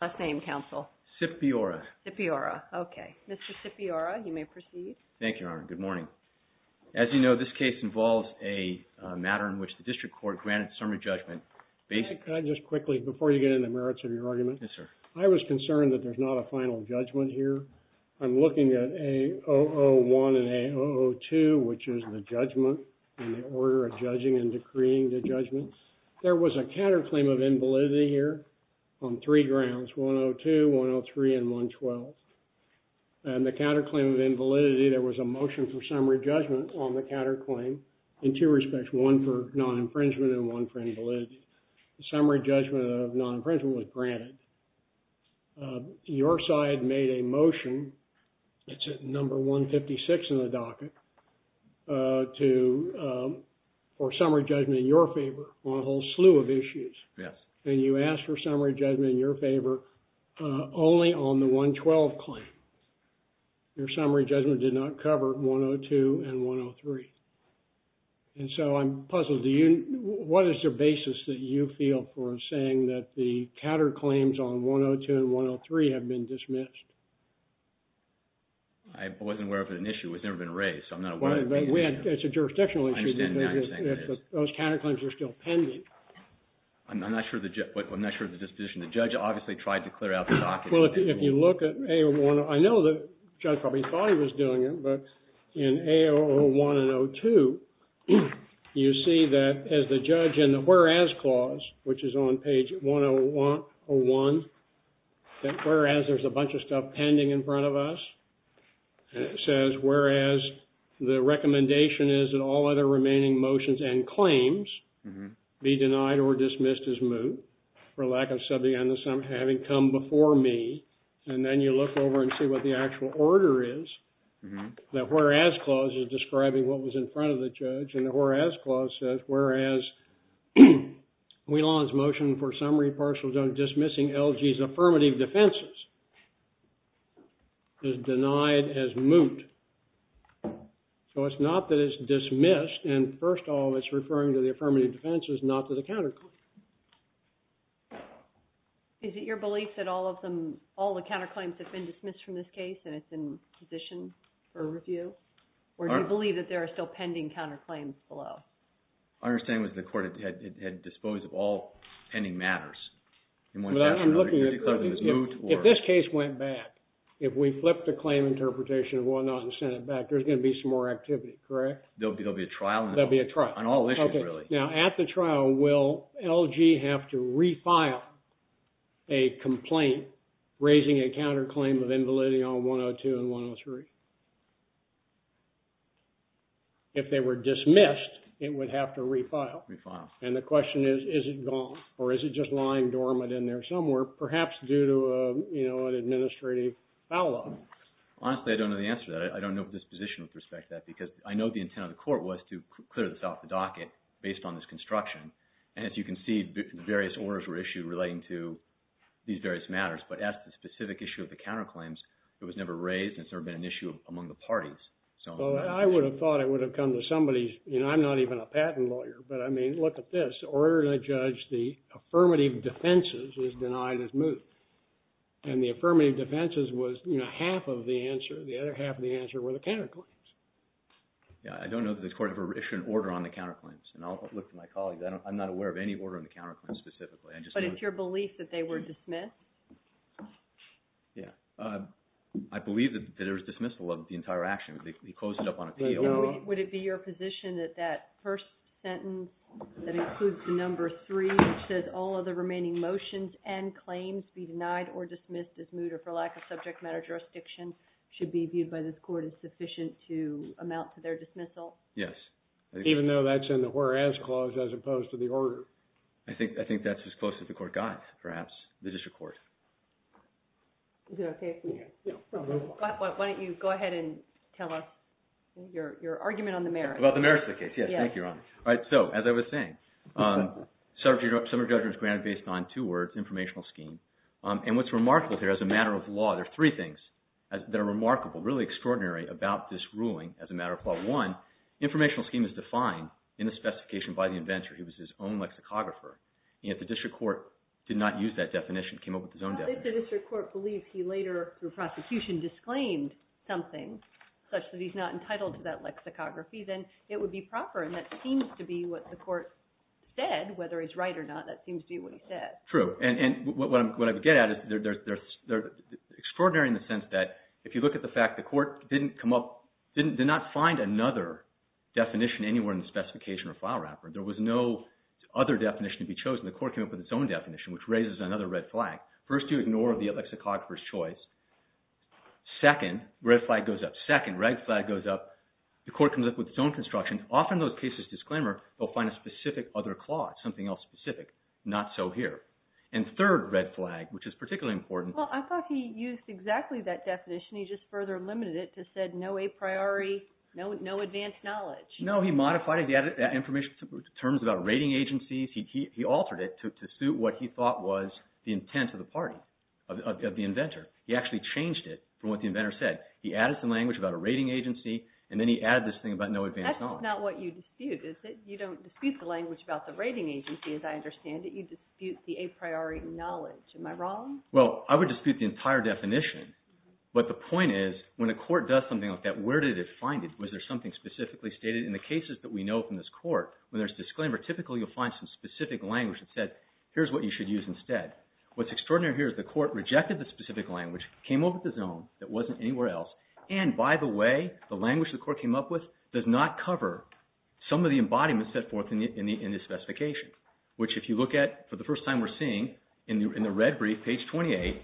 Last name, counsel? Scipiora. Scipiora. Okay. Mr. Scipiora, you may proceed. Thank you, Your Honor. Good morning. As you know, this case involves a matter in which the District Court granted summary judgment. Can I just quickly, before you get into the merits of your argument? Yes, sir. I was concerned that there's not a final judgment here. I'm looking at A-001 and A-002, which is the judgment and the order of judging and decreeing the judgment. There was a counterclaim of invalidity here on three grounds, A-002, A-003, and A-0012. And the counterclaim of invalidity, there was a motion for summary judgment on the counterclaim in two respects, one for non-infringement and one for invalidity. Summary judgment of non-infringement was granted. Your side made a motion, it's at number 156 in the docket, for summary judgment in your favor on a whole slew of issues. And you asked for summary judgment in your favor only on the 112 claim. Your summary judgment did not cover A-002 and A-003. And so I'm puzzled. What is the basis that you feel for saying that the counterclaims on A-002 and A-003 have been dismissed? I wasn't aware of an issue. It's never been raised. It's a jurisdictional issue. Those counterclaims are still pending. I'm not sure of the disposition. The judge obviously tried to clear out the docket. Well, if you look at A-001, I know the judge probably thought he was doing it, but in A-001 and A-002, you see that as the judge in the whereas clause, which is on page 101, that whereas, there's a bunch of stuff pending in front of us. And it says, whereas, the recommendation is that all other remaining motions and claims be denied or dismissed as moot for lack of subpoena having come before me. And then you look over and see what the actual order is. The whereas clause is describing what was in front of the judge. And the whereas clause says, whereas, Wieland's motion for summary partial judgment dismissing LG's affirmative defenses is denied as moot. So it's not that it's dismissed, and first of all, it's referring to the affirmative defenses, not to the counterclaims. Is it your belief that all of them, all the counterclaims have been dismissed from this case and it's in position for review? Or do you believe that there are still pending counterclaims below? My understanding was the court had disposed of all pending matters. If this case went back, if we flipped the claim interpretation and sent it back, there's going to be some more activity, correct? There'll be a trial on all issues, really. Now, at the trial, will LG have to refile a complaint raising a counterclaim of invalidity on 102 and 103? If they were dismissed, it would have to refile. And the question is, is it gone? Or is it just lying dormant in there somewhere, perhaps due to an administrative foul law? Honestly, I don't know the answer to that. I don't know the disposition with respect to that, because I know the intent of the court was to clear this off the docket based on this construction. And as you can see, various orders were issued relating to these various matters. But as to the specific issue of the counterclaims, it was never raised, and it's never been an issue among the parties. Well, I would have thought it would have come to somebody's, you know, I'm not even a patent lawyer, but I mean, look at this. Order to judge the affirmative defenses is denied as moot. And the affirmative defenses was, you know, half of the answer, the other half of the answer, were the counterclaims. Yeah, I don't know that this court ever issued an order on the counterclaims. And I'll look to my colleagues. I'm not aware of any order on the counterclaims specifically. But it's your belief that they were dismissed? Yeah. I believe that there was dismissal of the entire action. He closed it up on appeal. Would it be your position that that first sentence, that includes the number three, which says all of the remaining motions and claims be denied or dismissed as moot or for lack of subject matter jurisdiction, should be viewed by this court as sufficient to amount to their dismissal? Yes. Even though that's in the whereas clause as opposed to the order. I think that's as close as the court got, perhaps. The district court. Is that okay? Yeah. Why don't you go ahead and tell us your argument on the merits. About the merits of the case. Yes. Thank you, Your Honor. All right. So, as I was saying, summary judgment is granted based on two words, informational scheme. And what's remarkable here, as a matter of law, there are three things that are remarkable, really extraordinary about this ruling as a matter of law. One, informational scheme is defined in the specification by the inventor. He was his own lexicographer. And if the district court did not use that definition, came up with his own definition. If the district court believes he later, through prosecution, disclaimed something such that he's not entitled to that lexicography, then it would be proper. And that seems to be what the court said, whether he's right or not. That seems to be what he said. True. And what I would get at is they're extraordinary in the sense that, if you look at the fact the court didn't come up, did not find another definition anywhere in the specification or file wrapper. There was no other definition to be chosen. The court came up with its own definition, which raises another red flag. First, you ignore the lexicographer's choice. Second, red flag goes up. Second, red flag goes up. The court comes up with its own construction. Often those cases, disclaimer, they'll find a specific other clause, something else specific. Not so here. And third, red flag, which is particularly important. Well, I thought he used exactly that definition. He just further limited it to said, no a priori, no advanced knowledge. No, he modified it. He added information, terms about rating agencies. He altered it to suit what he thought was the intent of the party, of the inventor. He actually changed it from what the inventor said. He added some language about a rating agency, and then he added this thing about no advanced knowledge. That's not what you dispute, is it? You don't dispute the language about the rating agency, as I understand it. You dispute the a priori knowledge. Am I wrong? Well, I would dispute the entire definition. But the point is, when a court does something like that, where did it find it? Was there something specifically stated? In the cases that we know from this court, when there's disclaimer, typically you'll find some specific language that said, here's what you should use instead. What's extraordinary here is the court rejected the specific language, came up with its own that wasn't anywhere else, and, by the way, the language the court came up with does not cover some of the embodiments set forth in this specification. Which, if you look at, for the first time we're seeing, in the red brief, page 28,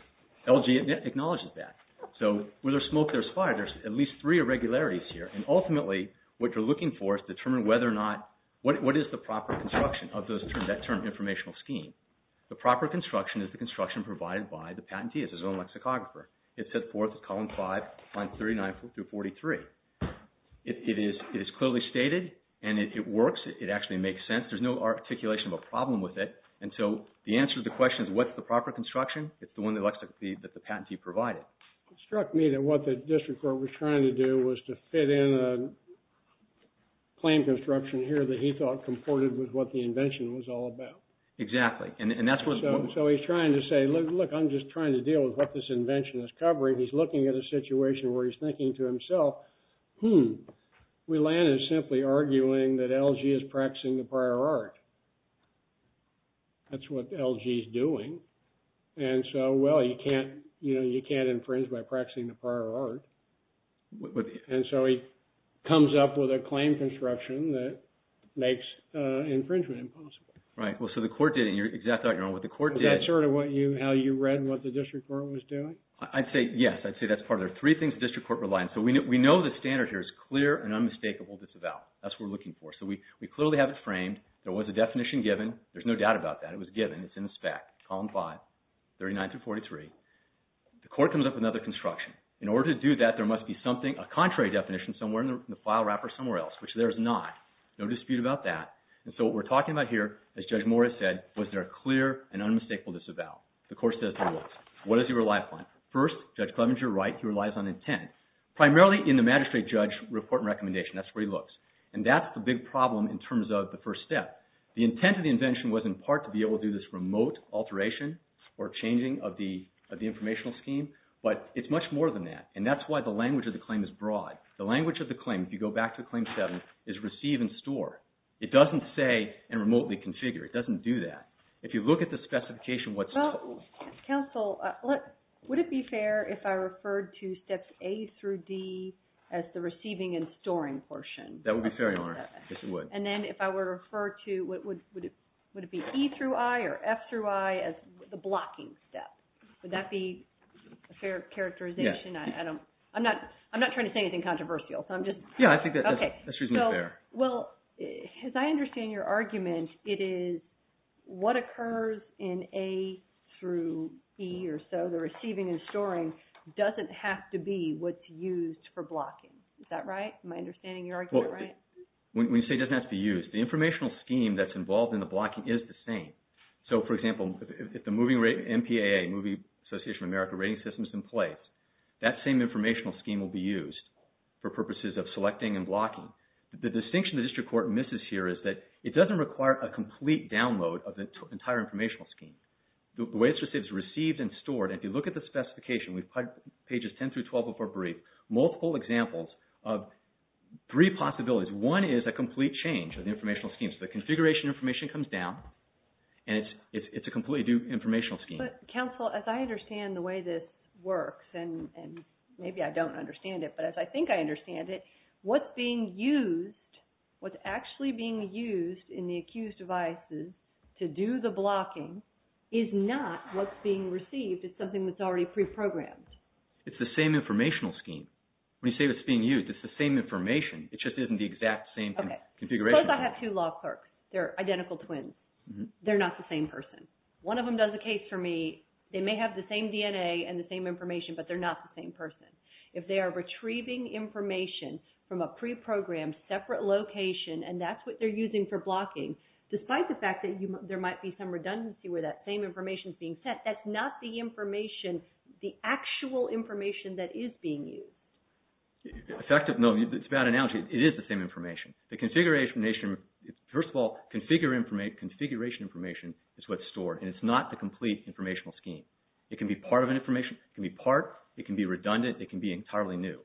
LG acknowledges that. So, where there's smoke, there's fire. There's at least three irregularities here. And, ultimately, what you're looking for is to determine whether or not, what is the proper construction of that term, informational scheme. The proper construction is the construction provided by the patentee. It's its own lexicographer. It's set forth in column 5, lines 39 through 43. It is clearly stated, and it works. It actually makes sense. There's no articulation of a problem with it. And so, the answer to the question is, what's the proper construction? It's the one that the patentee provided. It struck me that what the district court was trying to do was to fit in a claim construction here that he thought comported with what the invention was all about. Exactly. And that's what... So, he's trying to say, look, I'm just trying to deal with what this invention is covering. He's looking at a situation where he's thinking to himself, hmm, we landed simply arguing that LG is practicing the prior art. That's what LG's doing. And so, well, you can't, you know, you can't infringe by practicing the prior art. And so, he comes up with a claim construction that makes infringement impossible. Right. Well, so the court did it, and you're exacting on what the court did. Is that sort of what you, how you read what the district court was doing? I'd say, yes. I'd say that's part of it. Three things the district court relied on. So, we know the standard here is clear and unmistakable. That's what we're looking for. So, we clearly have it framed. There was a definition given. There's no doubt about that. It was given. It's in the spec. Column 5, 39 through 43. The court comes up with another construction. In order to do that, there must be something, a contrary definition, somewhere in the file wrapper, somewhere else, which there is not. No dispute about that. And so, what we're talking about here, as Judge Moore has said, was there a clear and unmistakable disavowal. The court says there was. What does he rely upon? First, Judge Clevenger, right, he relies on intent. Primarily in the magistrate judge report and recommendation. That's where he looks. And that's the big problem in terms of the first step. The intent of the invention was, in part, to be able to do this remote alteration or changing of the, of the informational scheme. But, it's much more than that. And that's why the language of the claim is broad. The language of the claim, if you go back to Claim 7, is receive and store. It doesn't say, and remotely configure. It doesn't do that. If you look at the specification, what's, Well, counsel, would it be fair if I referred to steps A through D as the receiving and storing portion? That would be fair, Your Honor. Yes, it would. And then, if I were to refer to, would it be E through I or F through I as the blocking step? Would that be a fair characterization? Yes. I don't, I'm not, I'm not trying to say so I'm just, Yeah, I think that's, Okay. That's reasonably fair. So, well, as I understand your argument, it is, what occurs in A through E or so, the receiving and storing, doesn't have to be what's used for blocking. Is that right? Am I understanding your argument right? Well, when you say it doesn't have to be used, the informational scheme that's involved in the blocking is the same. So, for example, if the moving rate, MPAA, Moving Association of America rating system is in place, that same informational scheme will be used for purposes of selecting and blocking. The distinction the district court misses here is that it doesn't require a complete download of the entire informational scheme. The way it's received is received and stored and if you look at the specification, pages 10 through 12 of our brief, multiple examples of three possibilities. One is a complete change of the informational scheme. So the configuration information comes down and it's a completely new informational scheme. But counsel, as I understand the way this works and maybe I don't understand it but as I think I understand it, what's being used, what's actually being used in the accused devices to do the blocking is not what's being received it's something that's already pre-programmed. It's the same informational scheme. When you say it's being used, it's the same information it just isn't in the exact same configuration. Suppose I have two law clerks, they're identical twins, they're not the same person. One of them does a case for me, they may have the same DNA and the same information but they're not the same person. If they are retrieving information from a pre-programmed separate location and that's what they're using for blocking, despite the fact that there might be some redundancy where that same information is being sent, that's not the information, the actual information that is being used. Effective, no, it's a bad analogy, it is the same information. The configuration information, first of all, configuration information is what's stored and it's not the complete informational scheme. It can be part of an information, it can be part, it can be redundant, it can be entirely new.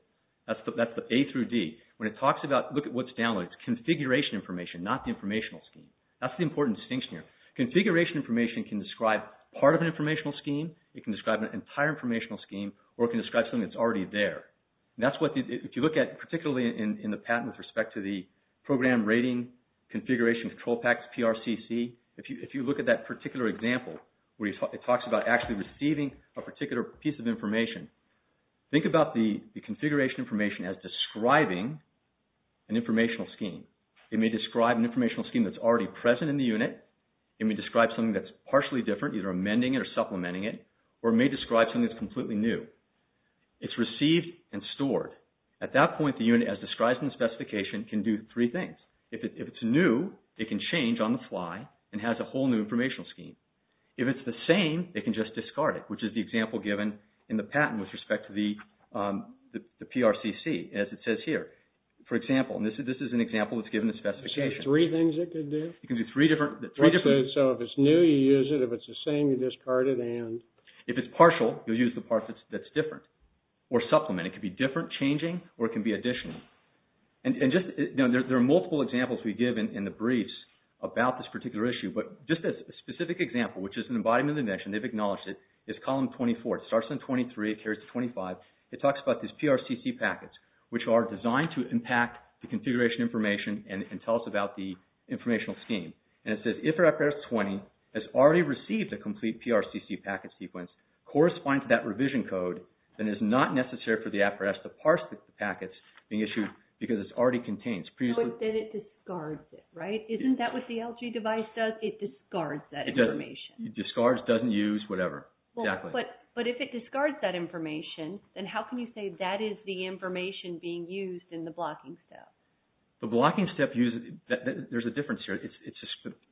That's the A through D. When it talks about, look at what's downloaded, it's configuration information not the informational scheme. That's the important distinction here. Configuration information can describe part of an informational scheme, it can describe an entire informational scheme, or it can describe something that's already there. That's what, if you look at, particularly in the patent with respect to the program rating, configuration control packs, PRCC, if you look at that particular example where it talks about actually receiving a particular piece of information, think about the configuration information as describing an informational scheme. It may describe an informational scheme that's already present in the unit, it may describe something that's partially different, either amending it or supplementing it, or it may describe something that's completely new. It's received and stored. At that point, the unit, as described in the specification, can do three things. If it's new, it can change on the fly and has a whole new informational scheme. If it's the same, it can just discard it, which is the example given in the patent with respect to the PRCC, as it says here. For example, and this is an example that's given in the specification. There's three things it could do? It can do three different... So if it's new, you use it, if it's the same, you discard it, and... If it's partial, you'll use the part that's different or supplement it. It can be different, changing, or it can be additional. There are multiple examples we give in the briefs about this particular issue, but just a specific example, which is an embodiment of the invention, they've acknowledged it, is column 24. It starts on 23, it carries to 25. It talks about these PRCC packets, which are designed to impact the configuration information and tell us about the informational scheme. And it says, if it appears 20, has already received a complete PRCC packet sequence, corresponding to that revision code, then it is not necessary for the FRS to parse the packets being issued because it's already contained. So instead it discards it, right? Isn't that what the LG device does? It discards that information. It discards, doesn't use, whatever. Exactly. But if it discards that information, then how can you say that is the information being used in the blocking step? The blocking step uses... There's a difference here.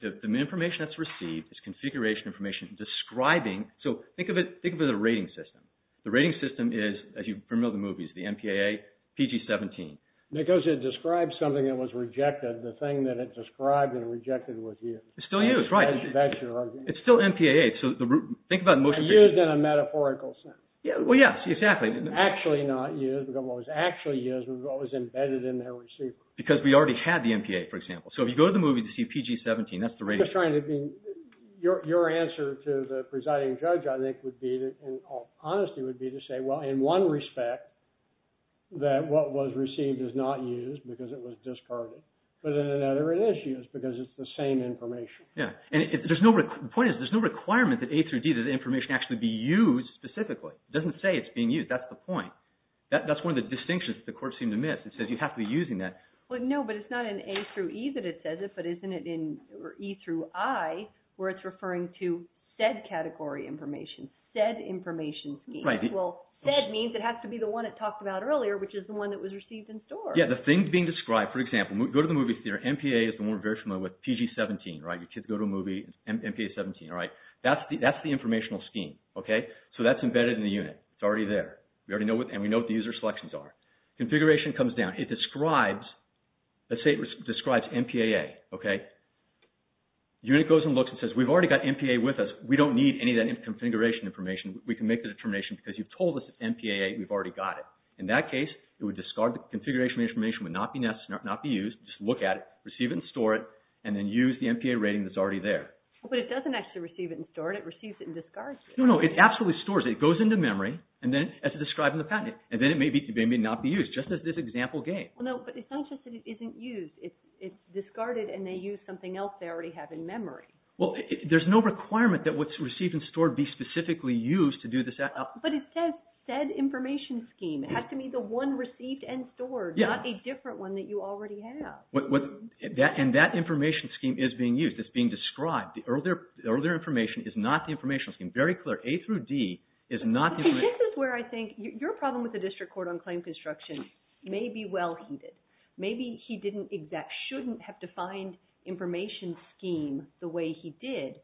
The information that's received is configuration information describing... So think of it as a rating system. The rating system is, as you've heard in other movies, the MPAA, PG-17. Because it describes something that was rejected, the thing that it described and rejected was used. It's still used, right. That's your argument. It's still MPAA. So think about... Used in a metaphorical sense. Well, yes, exactly. Actually not used, was what was embedded in their receiver. Because we already had the MPAA, for example. So if you go to the movie to see PG-17, that's the rating system. I'm just trying to be... Your answer to the presiding judge, I think, would be, in all honesty, would be to say, well, in one respect, that what was received is not used because it was discarded. But in another, it is used because it's the same information. Yeah. The point is, there's no requirement that A through D, that the information actually be used specifically. It doesn't say it's being used. That's the point. That's one of the distinctions that the court seemed to miss. It says you have to be using that. Well, no, but it's not in A through E that it says it, but isn't it in E through I where it's referring to said category information, said information. Right. Well, said means it has to be the one it talked about earlier, which is the one that was received in store. Yeah, the thing being described, for example, go to the movie theater, MPA is the one we're very familiar with, PG-17, right? You go to a movie, MPA-17, right? That's the informational scheme, okay? So that's embedded in the unit. It's already there. We already know what, and we know what the user selections are. Configuration comes down. It describes, let's say it describes MPAA, okay? The unit goes and looks and says, we've already got MPAA with us. We don't need any of that configuration information. We can make the determination because you've told us it's MPAA, we've already got it. In that case, it would discard the configuration information would not be used, just look at it, receive it and store it, and then use the MPAA rating that's already there. But it doesn't actually receive it and store it. It receives it and discards it. No, no, it absolutely stores it. It goes into memory and then, as described in the patent, and then it may not be used just as this example gave. But it's not just that it isn't used. It's discarded and they use something else they already have in memory. Well, there's no requirement that what's received and stored be specifically used to do this. But it says said information scheme. It has to be the one received and stored, not a different one that you already have. And that information scheme is being used. It's being described. is not the information scheme. Very clear. A through D is not the information scheme. This is where I think your problem with the District Court on claim construction may be well here. Maybe he didn't, that shouldn't have defined information scheme the way he did.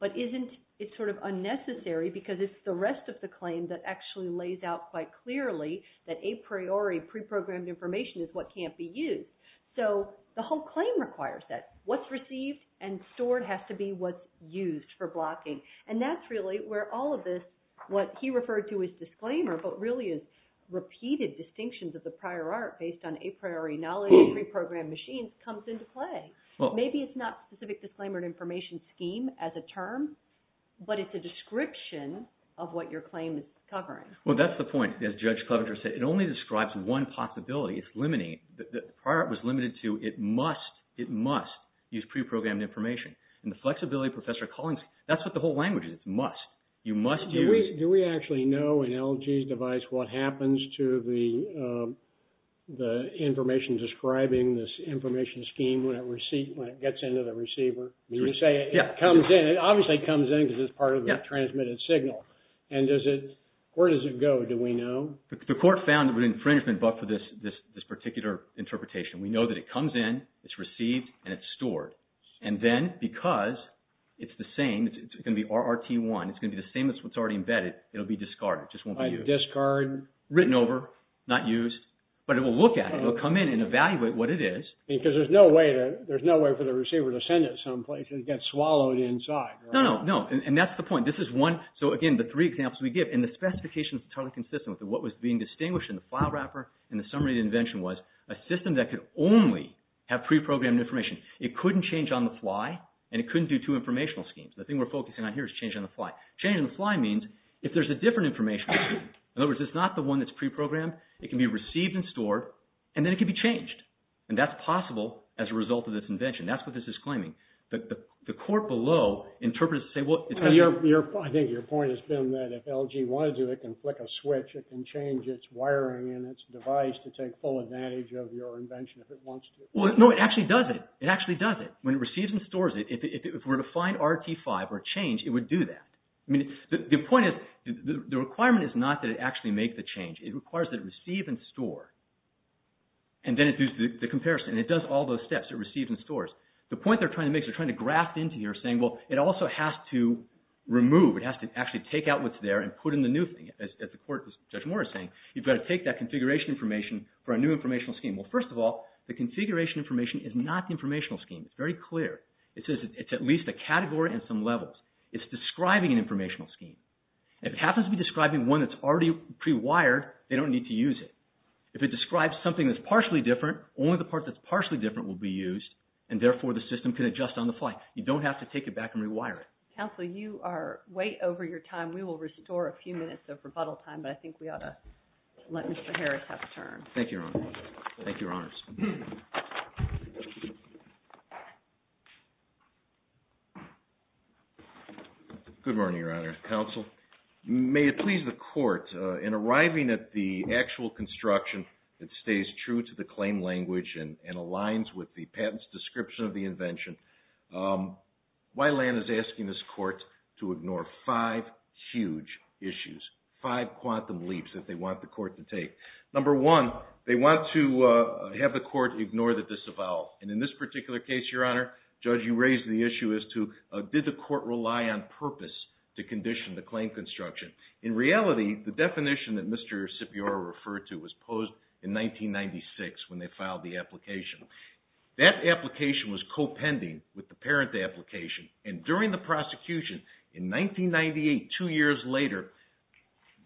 But isn't it sort of unnecessary because it's the rest of the claim that actually lays out quite clearly that a priori pre-programmed information is what can't be used. So, the whole claim requires that. What's received and stored has to be what's used for blocking. And that's really where all of this what he referred to as disclaimer but really is repeated distinctions of the prior art based on a priori knowledge of pre-programmed machines comes into play. Maybe it's not specific disclaimer and information scheme as a term but it's a description of what your claim is covering. Well, that's the point as Judge Coventer said. It only describes one possibility. It's limiting. The prior art was limited to it must use pre-programmed information. And the flexibility Professor Cullings that's what the whole language is. It's must. You must use Do we actually know in LG's device what happens to the information describing this information scheme when it receives when it gets into the receiver? When you say it comes in it obviously comes in because it's part of the transmitted signal. And does it where does it go? Do we know? The court found an infringement but for this particular interpretation. We know that it comes in it's received and it's stored. because it's the same it's going to be RRT1 it's going to be the same as what's already embedded it'll be discarded. It just won't be used. Like discard? Written over not used but it will look at it it will come in and evaluate what it is. Because there's no way there's no way for the receiver to send it someplace it gets swallowed inside. No, no, no and that's the point this is one so again the three examples we give and the specification is totally consistent with what was being distinguished in the file wrapper and the summary of the invention was a system that could only have pre-programmed information. It couldn't change on the fly and it couldn't do two informational schemes. The thing we're focusing on here is change on the fly. Change on the fly means if there's a different informational scheme in other words it's not the one that's pre-programmed it can be received and stored and then it can be changed and that's possible as a result of this invention that's what this is claiming. The court below interprets it to say well it's going to be I think your point has been that if LG wanted to it can flick a switch it can change its wiring and its device to take full advantage of your invention if it wants to. No, it actually does it it actually does it when it receives and stores it if it were to find RT5 or change it would do that. The point is the requirement is not that it actually make the change it requires that it receive and store and then it does the comparison and it does all those steps it receives and stores. The point they're trying to make is they're trying to graft into here saying well it also has to remove it has to actually take out what's there and put in the new thing as the court as Judge Moore is saying you've got to take that configuration information for a new informational scheme. Well first of all the configuration information is not the informational scheme it's very clear it's at least a category and some levels it's describing an informational scheme. If it happens to be describing one that's already pre-wired they don't need to use it. If it describes something that's partially different only the part that's partially different will be used and therefore the system can adjust on the fly. You don't have to take it back and rewire it. Counsel you are way over your time we will restore a few minutes of rebuttal time but I think we ought to let Mr. Harris have a turn. Thank you Your Honor. Thank you Your Honors. Good morning Your Honor. Counsel may it please the court in arriving at the actual construction that stays true to the claim language and aligns with the patent's description of the invention Weiland is asking this court to ignore five huge issues five quantum leaps they want to have the court ignore the disavowal and in this particular case Your Honor Judge Harris is asking the court to ignore the disavowal because you raised the issue as to did the court rely on purpose to condition the claim construction in reality the definition that Mr. Scipior referred to was posed in 1996 when they filed the application that application was co-pending with the parent application and during the prosecution in 1998 two years later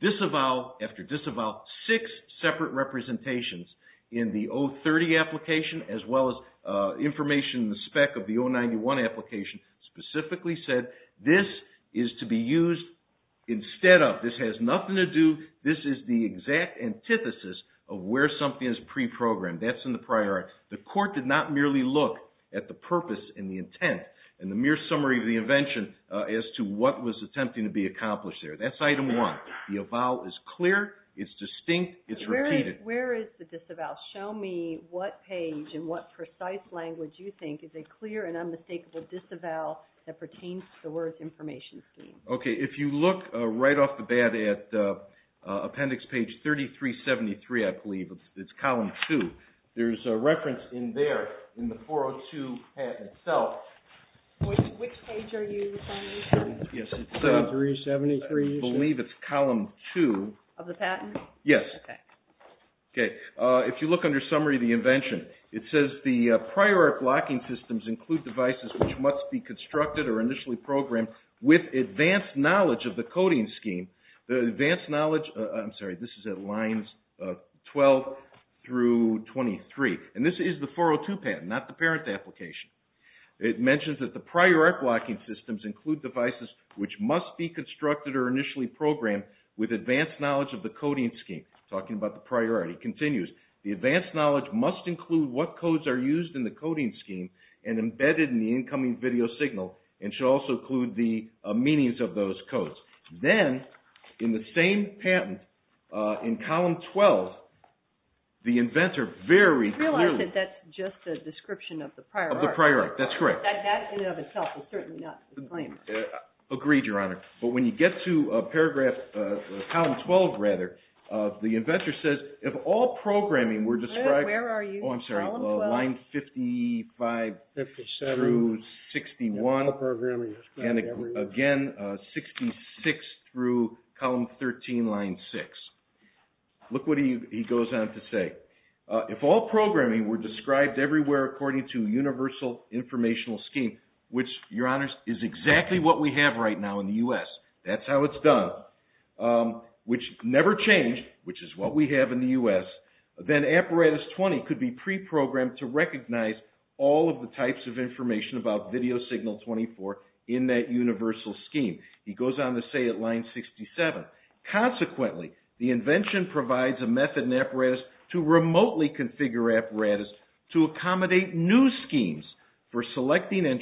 disavowal after disavowal six separate representations in the O30 application as well as information in the spec of the O91 application specifically said this is to be used instead of this has nothing to do this is the exact antithesis of where something is pre-programmed that's in the prior art the court did not merely look at the purpose and the intent and the mere summary of the invention as to what was attempting to be accomplished there that's item one the avowal is clear it's distinct it's repeated where is the disavowal show me what page and what precise language you think is a clear and unmistakable disavowal that pertains to the words information scheme okay if you look right off the bat at appendix page 3373 I believe it's column two there's a reference in there in the 402 patent itself which page are you referring to yes it's 3373 I believe it's column two of the patent yes okay if you look under summary of the invention it says the prior art blocking systems include devices which must be constructed or initially programmed with advanced knowledge of the coding scheme advanced knowledge I'm sorry this is at lines 12 through 23 and this is the 402 patent not the parent application it mentions that the prior art blocking systems include devices which must be the advanced knowledge must include what codes are used in the coding scheme and embedded in the incoming video signal and should also include the meanings of those codes then in the same patent in column 12 the inventor very I realize that that's just a description of the prior art of the prior art that's correct that in and of itself is certainly not a disclaimer agreed your honor but when you get to paragraph column 12 rather the inventor says if all programming were described where are you oh I'm sorry line 55 57 through 61 programming again 66 through column 13 line 6 look what he goes on to say if all programming were described everywhere according to the universal informational scheme which your honor is exactly what we have right now in the U.S. that's how it's done which never changed which is what we have in the U.S. then apparatus 20 could be pre-programmed to recognize all of the types of information about video signal 24 in that universal scheme he goes on to say line 67 consequently the invention provides a method and apparatus to remotely configure apparatus to accommodate new schemes for selecting and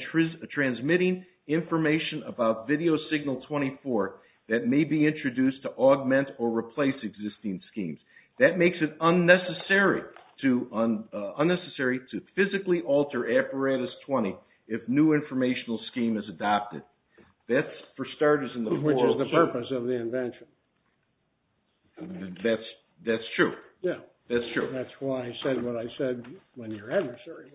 transmitting information about video signal 24 that may be introduced to augment or replace existing schemes that makes it unnecessary to physically alter apparatus 20 if new informational scheme is adopted that's for the purpose of the invention that's true that's why I said what I said when your adversary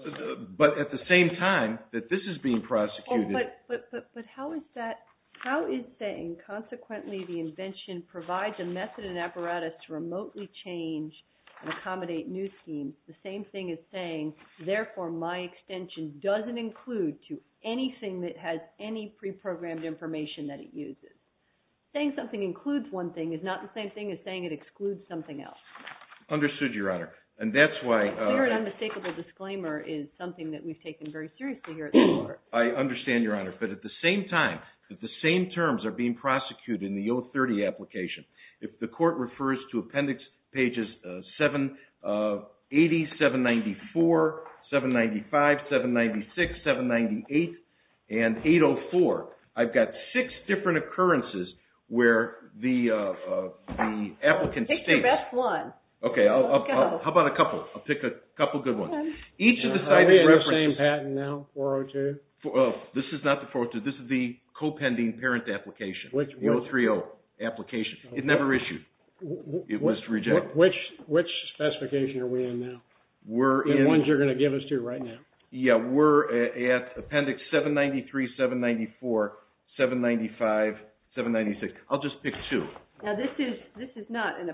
but at the same time that this is being prosecuted but how is that how is saying consequently the invention provides a method and apparatus to remotely change and accommodate new schemes the same thing is saying therefore my extension doesn't include to anything that has any pre-programmed information that it uses saying something includes one thing is not the same thing as saying it excludes something else understood your honor and that's why your an unmistakable disclaimer is something that we've taken very seriously here at the court I understand your honor but at the same time that the same terms are being prosecuted in the O30 application if the court refers to appendix pages 780 794 795 796 798 and 804 I've got six different occurrences where the applicant states pick your best one how about a couple I'll pick a couple good ones each of the same patent now 402 this is not the 402 this is the co-pending parent application O30 application it never issued it was rejected which specification are we in now the ones you're going to give us to right now yeah we're at appendix 793 794 795 796 I'll just pick two now this is this is not an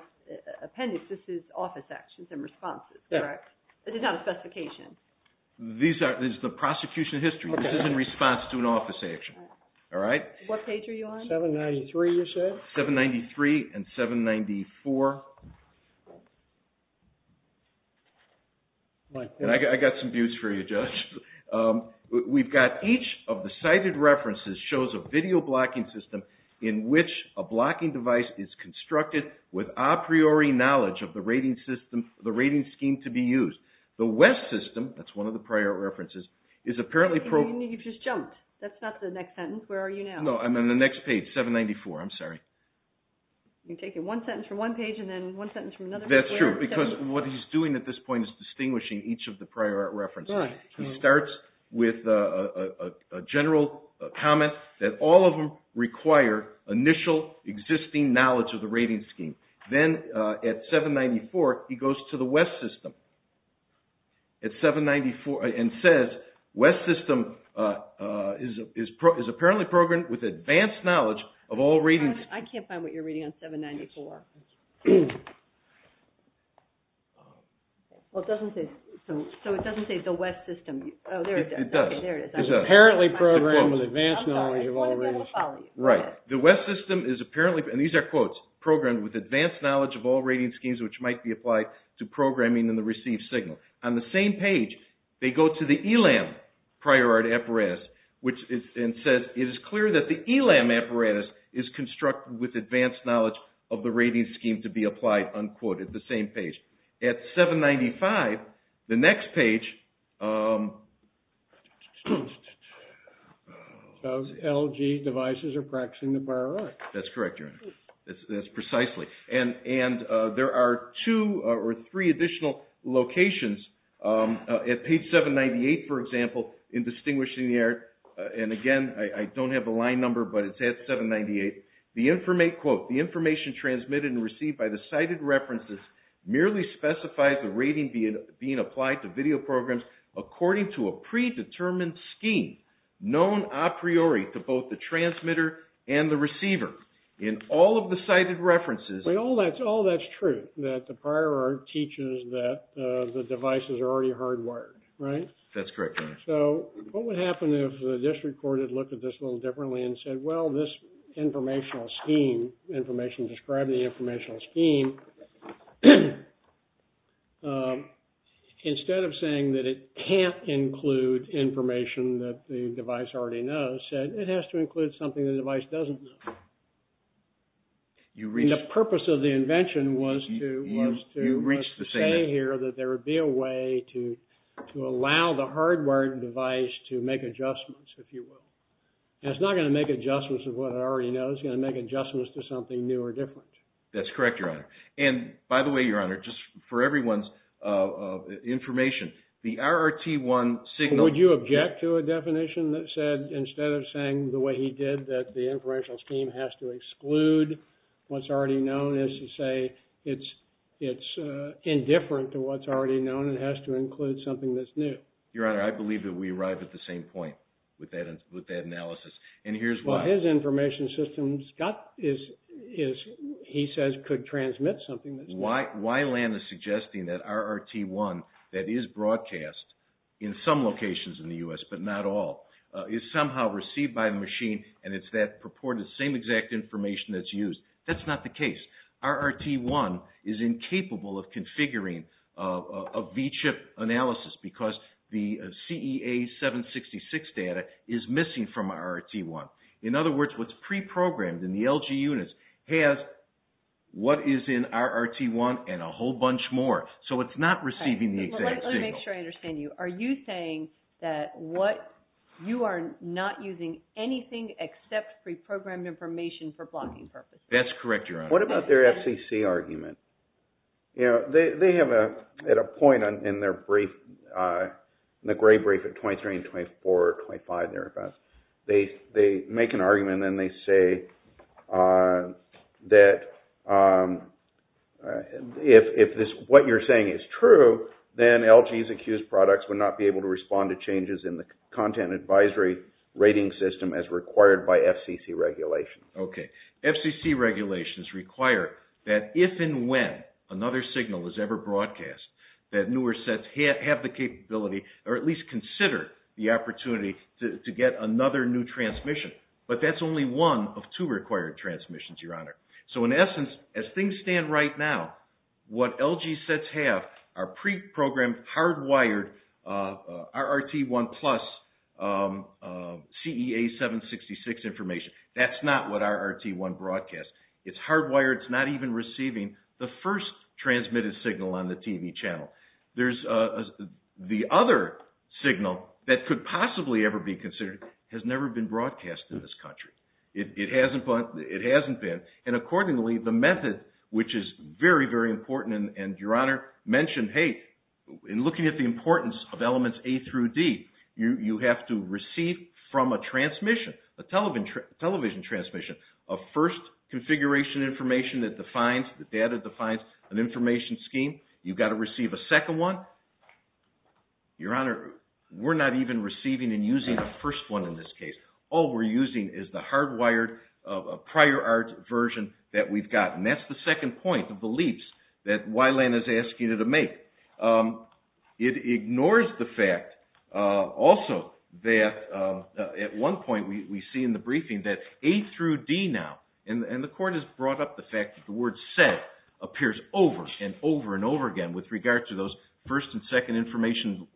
appendix this is office actions and responses this is not a specification these are this is the prosecution history this is in response to an office action alright what page are you on 793 you said 793 and 794 and I got some views for you judge we've got each of the cited references shows a video blocking system in which a blocking device is constructed with a priori knowledge of the rating system the rating scheme to be used the west system that's one of the priori references is apparently you've just jumped that's not the next sentence where are you now no I'm on the next page 794 I'm sorry you're taking one sentence from one page and then one sentence from another that's true because what he's doing at this point is distinguishing each of the priori references he starts with a general comment that all of them require initial existing knowledge of the rating scheme then at 794 he goes to the west system at 794 and says west system is apparently programmed with advanced knowledge of all ratings I can't find what you're reading on 794 well it doesn't say so it doesn't say the west system it does it's apparently programmed with advanced knowledge of all ratings right the west system is apparently and these are quotes programmed with advanced knowledge of all rating schemes which might be applied to programming in the received signal on the same page they go to the ELAM priori apparatus which is and says it is clear that the ELAM apparatus is constructed with advanced knowledge of the rating scheme to be applied unquote at the same page at 795 the next page those LG devices are practicing the priori that's correct that's precisely and there are two or three additional locations at page 798 for example in distinguishing the error and again I don't have a line number but it's at 798 the information transmitted and received by the sighted references merely specifies the rating being applied to video programs according to a predetermined scheme known a priori to both the transmitter and the receiver in all of the sighted references but all that's all that's true that the priori teaches that the devices are already hardwired right? that's correct so what would happen if the district court had looked at this a little differently and said well this informational scheme information described in the informational scheme instead of saying that it can't include information that the device already knows it has to include something the device doesn't know the purpose of the invention was to say here that there would be a way to allow the hardwired device to make adjustments if you will and it's not going to make adjustments of what it already knows it's going to make adjustments to something new or different that's correct your honor and by the way your honor just for everyone's information the RRT1 signal would you object to a definition that said instead of saying the way he did that the informational scheme has to exclude what's already known with that analysis and here's why well his information system he says could transmit something why land is suggesting that RRT1 that is broadcast in some locations in the U.S. but not all is somehow received by the machine and it's that purported same exact information that's used that's not the case RRT1 is incapable of configuring of VCHIP analysis because the CEA 766 data is missing from RRT1 in other words what's pre-programmed in the LG units has what is in RRT1 and a whole bunch more so it's not receiving the exact signal are you saying that what you are not using anything except pre-programmed information for the FCC argument you know they have at a point in their brief in the gray brief at 23 and 24 or 25 thereabouts they make an argument and they say that if this what you are saying is true then LG's accused products would not be able to respond to changes in the content advisory rating system as required by FCC regulation FCC regulations require that if and when another signal is ever broadcast that newer sets have the capability or at least consider the opportunity to get another new transmission but that's only one of two required transmissions your honor so in essence as things stand right now what LG sets have are pre-programmed hardwired RRT1 plus CEA 766 that's not what RRT1 broadcasts it's hardwired it's not even receiving the first transmitted signal on the TV channel there's the other signal that could possibly ever be considered has never been broadcasted in this country it hasn't been and accordingly the method which is very very important and your honor mentioned hey in looking at the importance of elements A through D you have to receive from a transmission a television transmission a first configuration information that defines an information scheme you've got to receive a second one your honor we're not even receiving and using the first one in this case all we're using is the hardwired prior RRT version that we've got and that's the second point of the leaps that Wylan is asking you to make it ignores the fact also that at one point we see in the briefing that A through D now and the court has brought up the fact that the word said appears over and over and over again with regard to those first and second information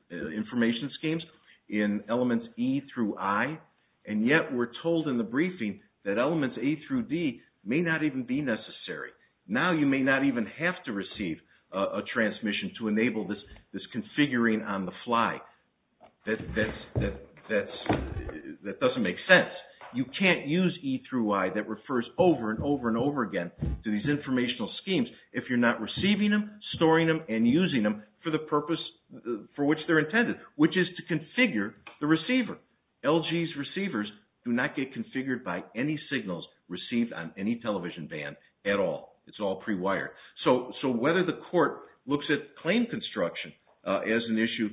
schemes in elements E through I and yet we're told in the briefing that elements A through D may not even be necessary now you may not even have to receive a transmission to enable this configuring on the fly that doesn't make sense you can't use E through I that refers over and over and over again to these informational schemes if you're not receiving them storing them and using them for the purpose for which they're intended which is to configure the receiver LG's receivers do not get configured by any signals received on any television band at all it's all pre-wired so whether the court looks at claim construction as an issue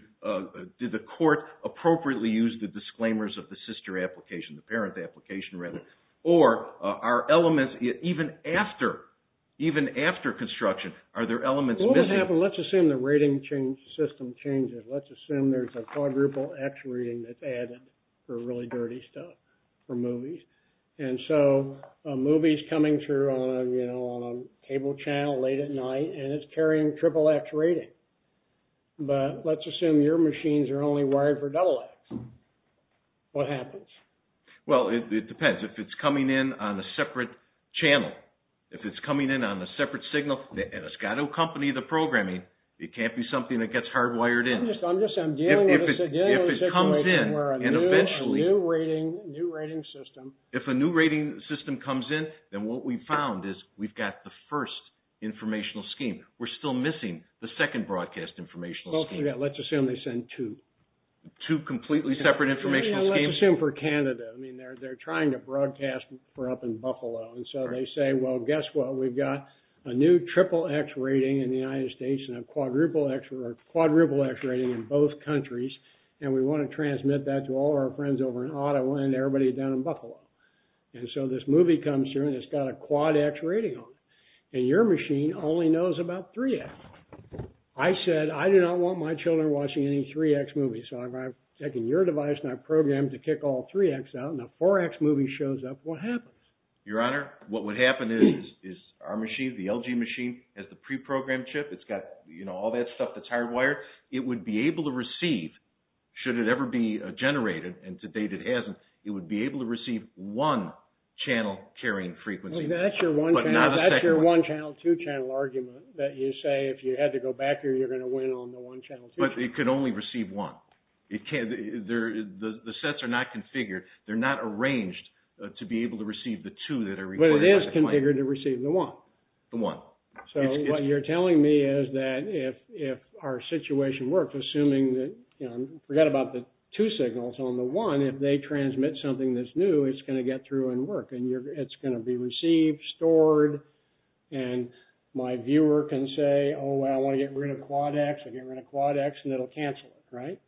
did the court appropriately use the disclaimers of the sister application the parent application rather or are elements even after even after construction are there elements missing let's assume the rating system changes let's assume there's a quadruple X rating that's added for really dirty stuff for movies and so a movie is coming through on a you know on a cable channel late at night and it's carrying triple X rating but let's assume your machines are only wired for double X what happens well it depends if it's coming in on a separate channel if it's coming in on a separate signal it's got to accompany the programming it can't be something that gets hardwired in I'm just dealing with a situation where a new rating new rating system if a new rating system comes in then what we've found is we've got the first informational scheme we're still missing the second broadcast informational scheme let's assume they send two two completely separate informational schemes let's assume for Canada I mean they're trying to broadcast for up in Buffalo and so they say well guess what we've got a new triple X rating in the United States and a quadruple X or quadruple X rating in both countries and we want to transmit that to all our friends over in Ottawa and everybody down in Buffalo and so this movie comes through and it's got a quad X rating on it and your machine only knows about 3X I said I do not want my children watching any 3X movies so I've taken your device and I've programmed to kick all 3X out and a 4X movie shows up what happens? Your Honor what would happen is our machine the LG machine has the pre-programmed chip it's got all that stuff that's hardwired it would be able to receive should it ever be generated and to date it hasn't it would be able to receive one channel carrying frequency that's your one channel two channel argument that you say if you had to go back or you're going to win on the one channel but it could only receive one the sets are not configured they're not arranged to be able to receive the two that are recorded but it is configured to receive the one so what you're telling me is that if our situation works assuming that I forgot about the two signals on the one if they transmit something that's new it's going to get through and work and it's going to be received stored and my viewer can say oh wow I want to get rid of quad X I'll get rid of quad X and it'll cancel it right?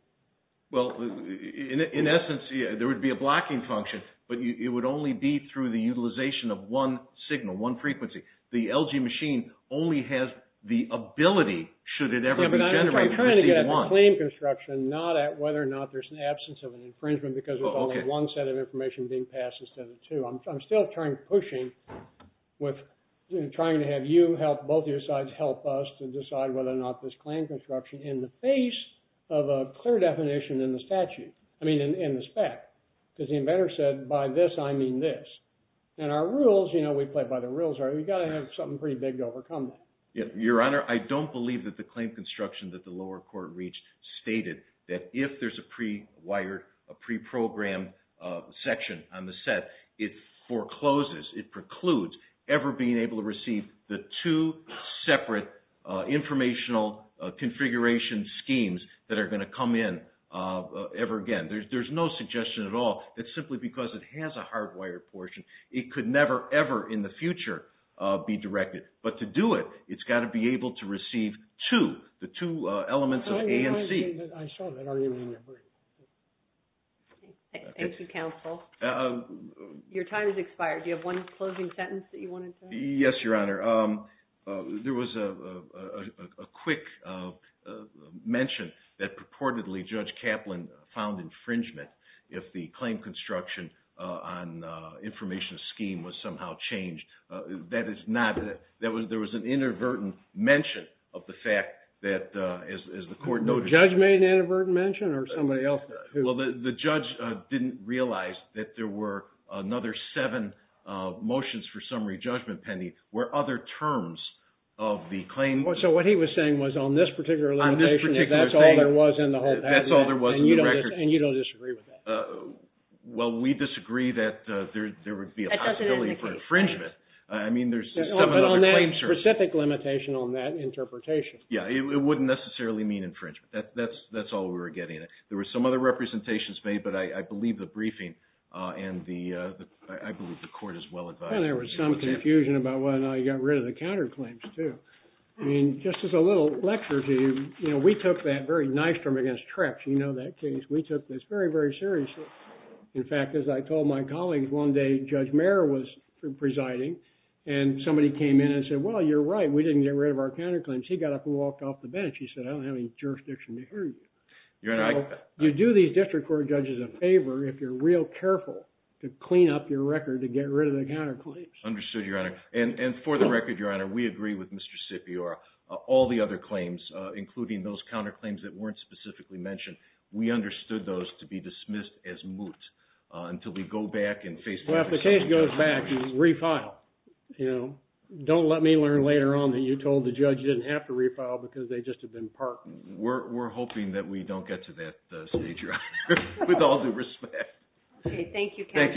well in essence there would be a blocking function but it would only be through the utilization of one signal one frequency the LG machine only has the ability should it ever be generated to receive one I'm trying to get a claim construction not at whether or not there's an absence of an infringement because there's only one set of information being passed instead of two I'm still pushing with trying to have you help both your sides help us to decide whether or not this claim construction in the face of a clear definition in the statute I mean in the spec because the inventor said by this I mean this and our rules you know we play by the rules we gotta have something pretty big to overcome that your honor I don't believe that the claim construction that the lower court reached stated that if there's a pre-wired pre-programmed section on the set it forecloses it precludes ever being able to receive the two separate informational configuration schemes that are going to come in ever again there's no suggestion at all it's simply because it has a hardwired portion it could never ever in the future be directed but to do it it's gotta be able to receive two the two elements of A and C Thank you counsel your time has expired do you have one closing sentence that you wanted to say yes your honor there was a quick mention that purportedly Judge Kaplan found infringement if the claim construction on informational scheme was somehow changed that is not there was an inadvertent mention of the fact that as the court no judge made an inadvertent mention or somebody else well the judge didn't realize that there were another seven motions for summary judgment pending where other terms of the claim so what he was saying was on this particular limitation if that's all there was in the whole patent and you don't disagree with that well we disagree that there would be a possibility for infringement I mean there's on that specific limitation on that interpretation yeah it wouldn't necessarily mean infringement that's all we were getting there were some other representations made but I believe the briefing and the I believe the court is well advised there was some confusion about whether or not you got rid of the counterclaims too I mean just as a little lecture to you we took that very nice term against Trex you know that case we took this very very seriously in fact as I told my colleagues one day Judge Merrill was presiding and somebody came in and said well you're right we didn't get rid of the counterclaims and for the record your honor we agree with Mr. Scipior all the other claims including those counterclaims that weren't specifically mentioned we understood those to be dismissed as moot until we go back and face-to-face well if the case goes back refile you know don't let me learn later on that you told the judge you didn't have to refile because they would have been disqualified their so we we we we we we we we we rebut it we we we we we we we we we we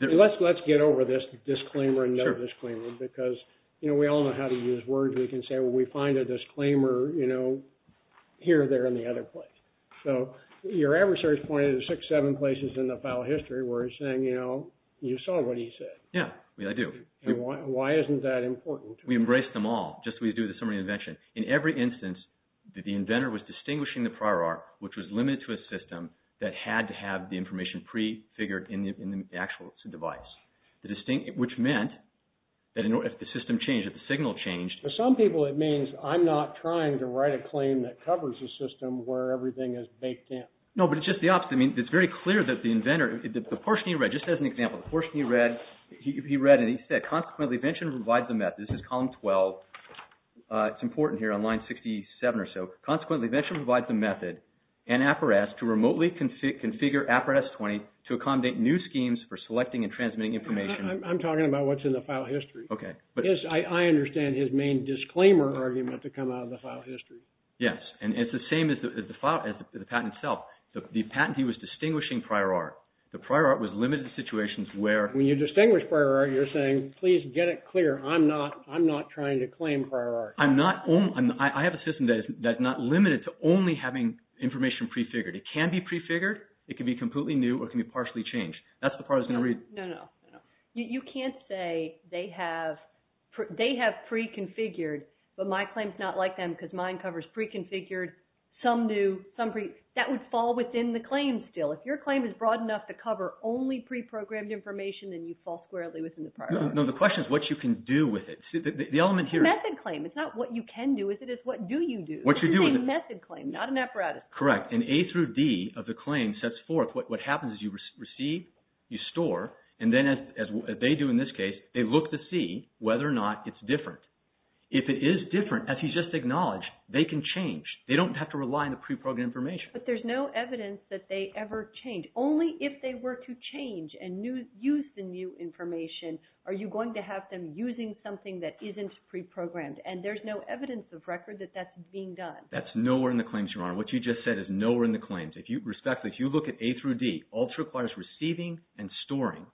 But let us get over this disclaimer, this disclaimer because, you know, we all know how to use words, we can say we find a disclaimer, you know, here, there, and other place. So your adversary is pointed to six, seven places of history where it is saying, you know, they saw what he said. Yeah, we all do, why isn't that important? We embrace them all, just as we do with sending of invention. In every instance that the inventer was distinguishing the prior arc, which was limited to a system that had to have the information prefigured in the actual device, which meant that if the system changed, if the signal changed... For some people it means, I'm not trying to write a claim that covers a system where everything is baked in. No, but it's just the opposite. I mean, it's very clear that the inventor, the portion he read, just as an example, the portion he read, he read and he said, consequently, invention provides a method, this is column 12, it's important here on line 67 or so, consequently, invention provides a method, and APRES to remotely configure APRES-20 to accommodate new schemes for selecting and transmitting information. I'm talking about what's in the file history. Okay. I understand his main disclaimer argument to come out of the file history. Yes, and it's the same as the patent itself. The patentee was distinguishing prior arc. The prior arc was limited to situations where... When you distinguish prior arc, you're saying, please get it clear, I'm not trying to claim prior arc. I have a system that's not limited to only having information prefigured. It can be prefigured, it can be completely new, or it can be partially changed. That's the part I was going to read. No, no, no. You can't say they have preconfigured, but my claim is not like them because mine covers preconfigured, some new, some pre... That would fall within the claim still. If your claim is broad enough to cover only preprogrammed information, then you fall squarely within the prior arc. No, the question is what you can do with it. The element here... It's a method claim. It's not what you can do, is it? It's what do you do? What you do with it... It's a method claim, not an apparatus claim. Correct, and A through D of the claim sets forth what happens is you receive, you store, and then as they do in this case, they look to see whether or not it's different. If it is different, as he's just acknowledged, they can change. They don't have to rely on the preprogrammed information. But there's no evidence that they ever change. Only if they were to change and use the new information are you going to have them using something that isn't preprogrammed, and there's no evidence of record that that's being done. That's nowhere in the claims, Your Honor. What you just said is nowhere in the claims. If you look at A through D, all it requires is receiving and storing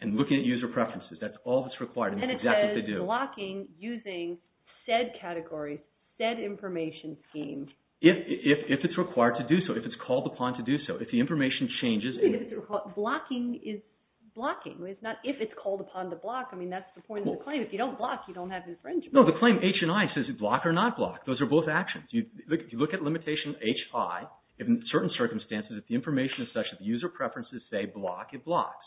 and looking at user preferences. That's all that's required, and that's exactly what they do. And it says blocking using said category, said information scheme. If it's required to do so, if it's called upon to do so, if the information changes... Blocking is blocking. It's not if it's called upon to block. I mean, that's the point of the claim. If you don't block, you don't have infringement. No, the claim H and I says block or not block. Those are both actions. You look at limitation H, I. In certain circumstances, if the information is such that the user preferences say block, it blocks.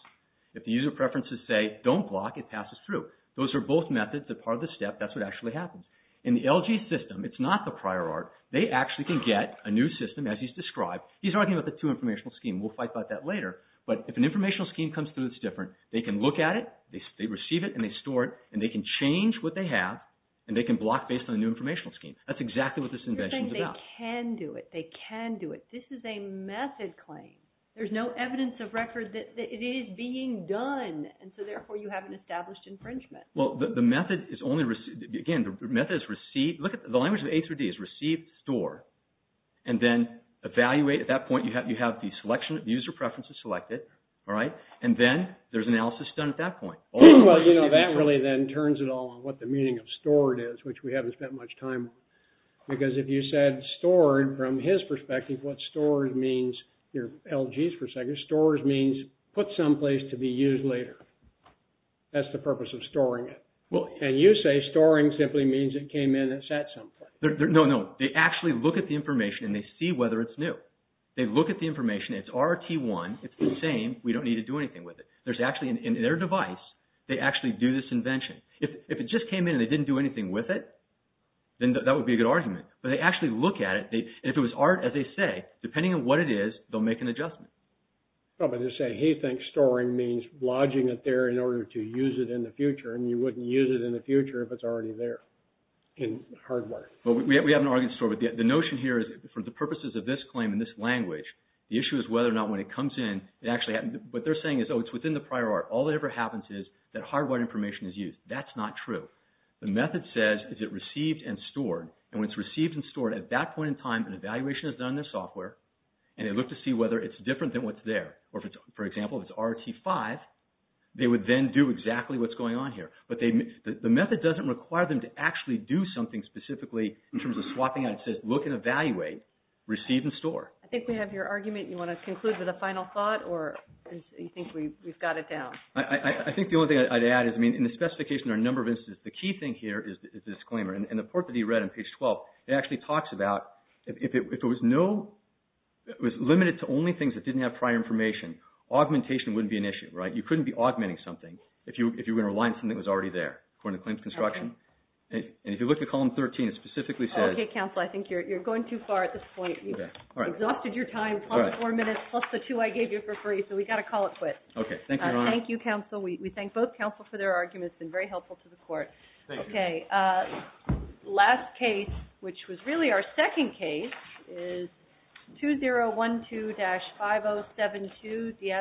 If the user preferences say don't block, it passes through. Those are both methods that are part of the step. That's what actually happens. In the LG system, it's not the prior art. They actually can get a new system, as he's described. He's arguing about the two informational schemes. We'll fight about that later, but if an informational scheme comes through that's different, they can look at it, they receive it, and they store it, and they can change what they have, and they can block based on a new informational scheme. That's exactly what this invention is about. You're saying they can do it. They can do it. This is a method claim. There's no evidence of record that it is being done, and so therefore you have an established infringement. Well, the method is only received. Again, the method is received. Look at the language of A through D. It's received, stored, and then evaluate. At that point, you have the user preferences selected, and then there's analysis done at that point. Well, you know, that really then turns it all on what the meaning of stored is, which we haven't spent much time. Because if you said stored from his perspective, what stored means, your LGs for a second, stored means put someplace to be used later. That's the purpose of storing it. And you say storing simply means it came in and sat someplace. No, no. They actually look at the information and they see whether it's new. They look at the information. It's RRT1. It's the same. We don't need to do anything with it. There's actually, in their device, they actually do this invention. If it just came in and they didn't do anything with it, then that would be a good argument. But they actually look at it. And if it was RRT, as they say, depending on what it is, they'll make an adjustment. Well, but they say he thinks storing means lodging it there in order to use it in the future. And you wouldn't use it in the future if it's already there in hardware. Well, we have an RRT in store, but the notion here is for the purposes of this claim in this language, the issue is whether or not when it comes in, it actually happens. What they're saying is, oh, it's within the prior RRT. All that ever happens is that hardware information is used. That's not true. The method says, is it received and stored? And when it's received and stored, at that point in time, an evaluation is done in the software, and they look to see whether it's different than what's there. Or, for example, if it's RRT5, they would then do exactly what's going on here. But the method doesn't require them to actually do something specifically in terms of swapping out. It says, look and evaluate, receive and store. I think we have your argument. You want to conclude with a final thought, or do you think we've got it down? I think the only thing I'd add is, I mean, in the specification, there are a number of instances. The key thing here is the disclaimer. In the part that you read on page 12, it actually talks about if it was limited to only things that didn't have prior information, augmentation wouldn't be an issue, right? You couldn't be augmenting something if you were going to rely on something that was already there, according to claims construction. And if you look at column 13, it specifically says... Okay, counsel, I think you're going too far at this point. You've exhausted your time, plus the four minutes, plus the two I gave you for free, so we've got to call it quits. Okay, thank you, Your Honor. Thank you, counsel. We thank both counsel for their arguments. It's been very helpful to the court. Thank you. Okay, last case, which was really our second case, is 2012-5072.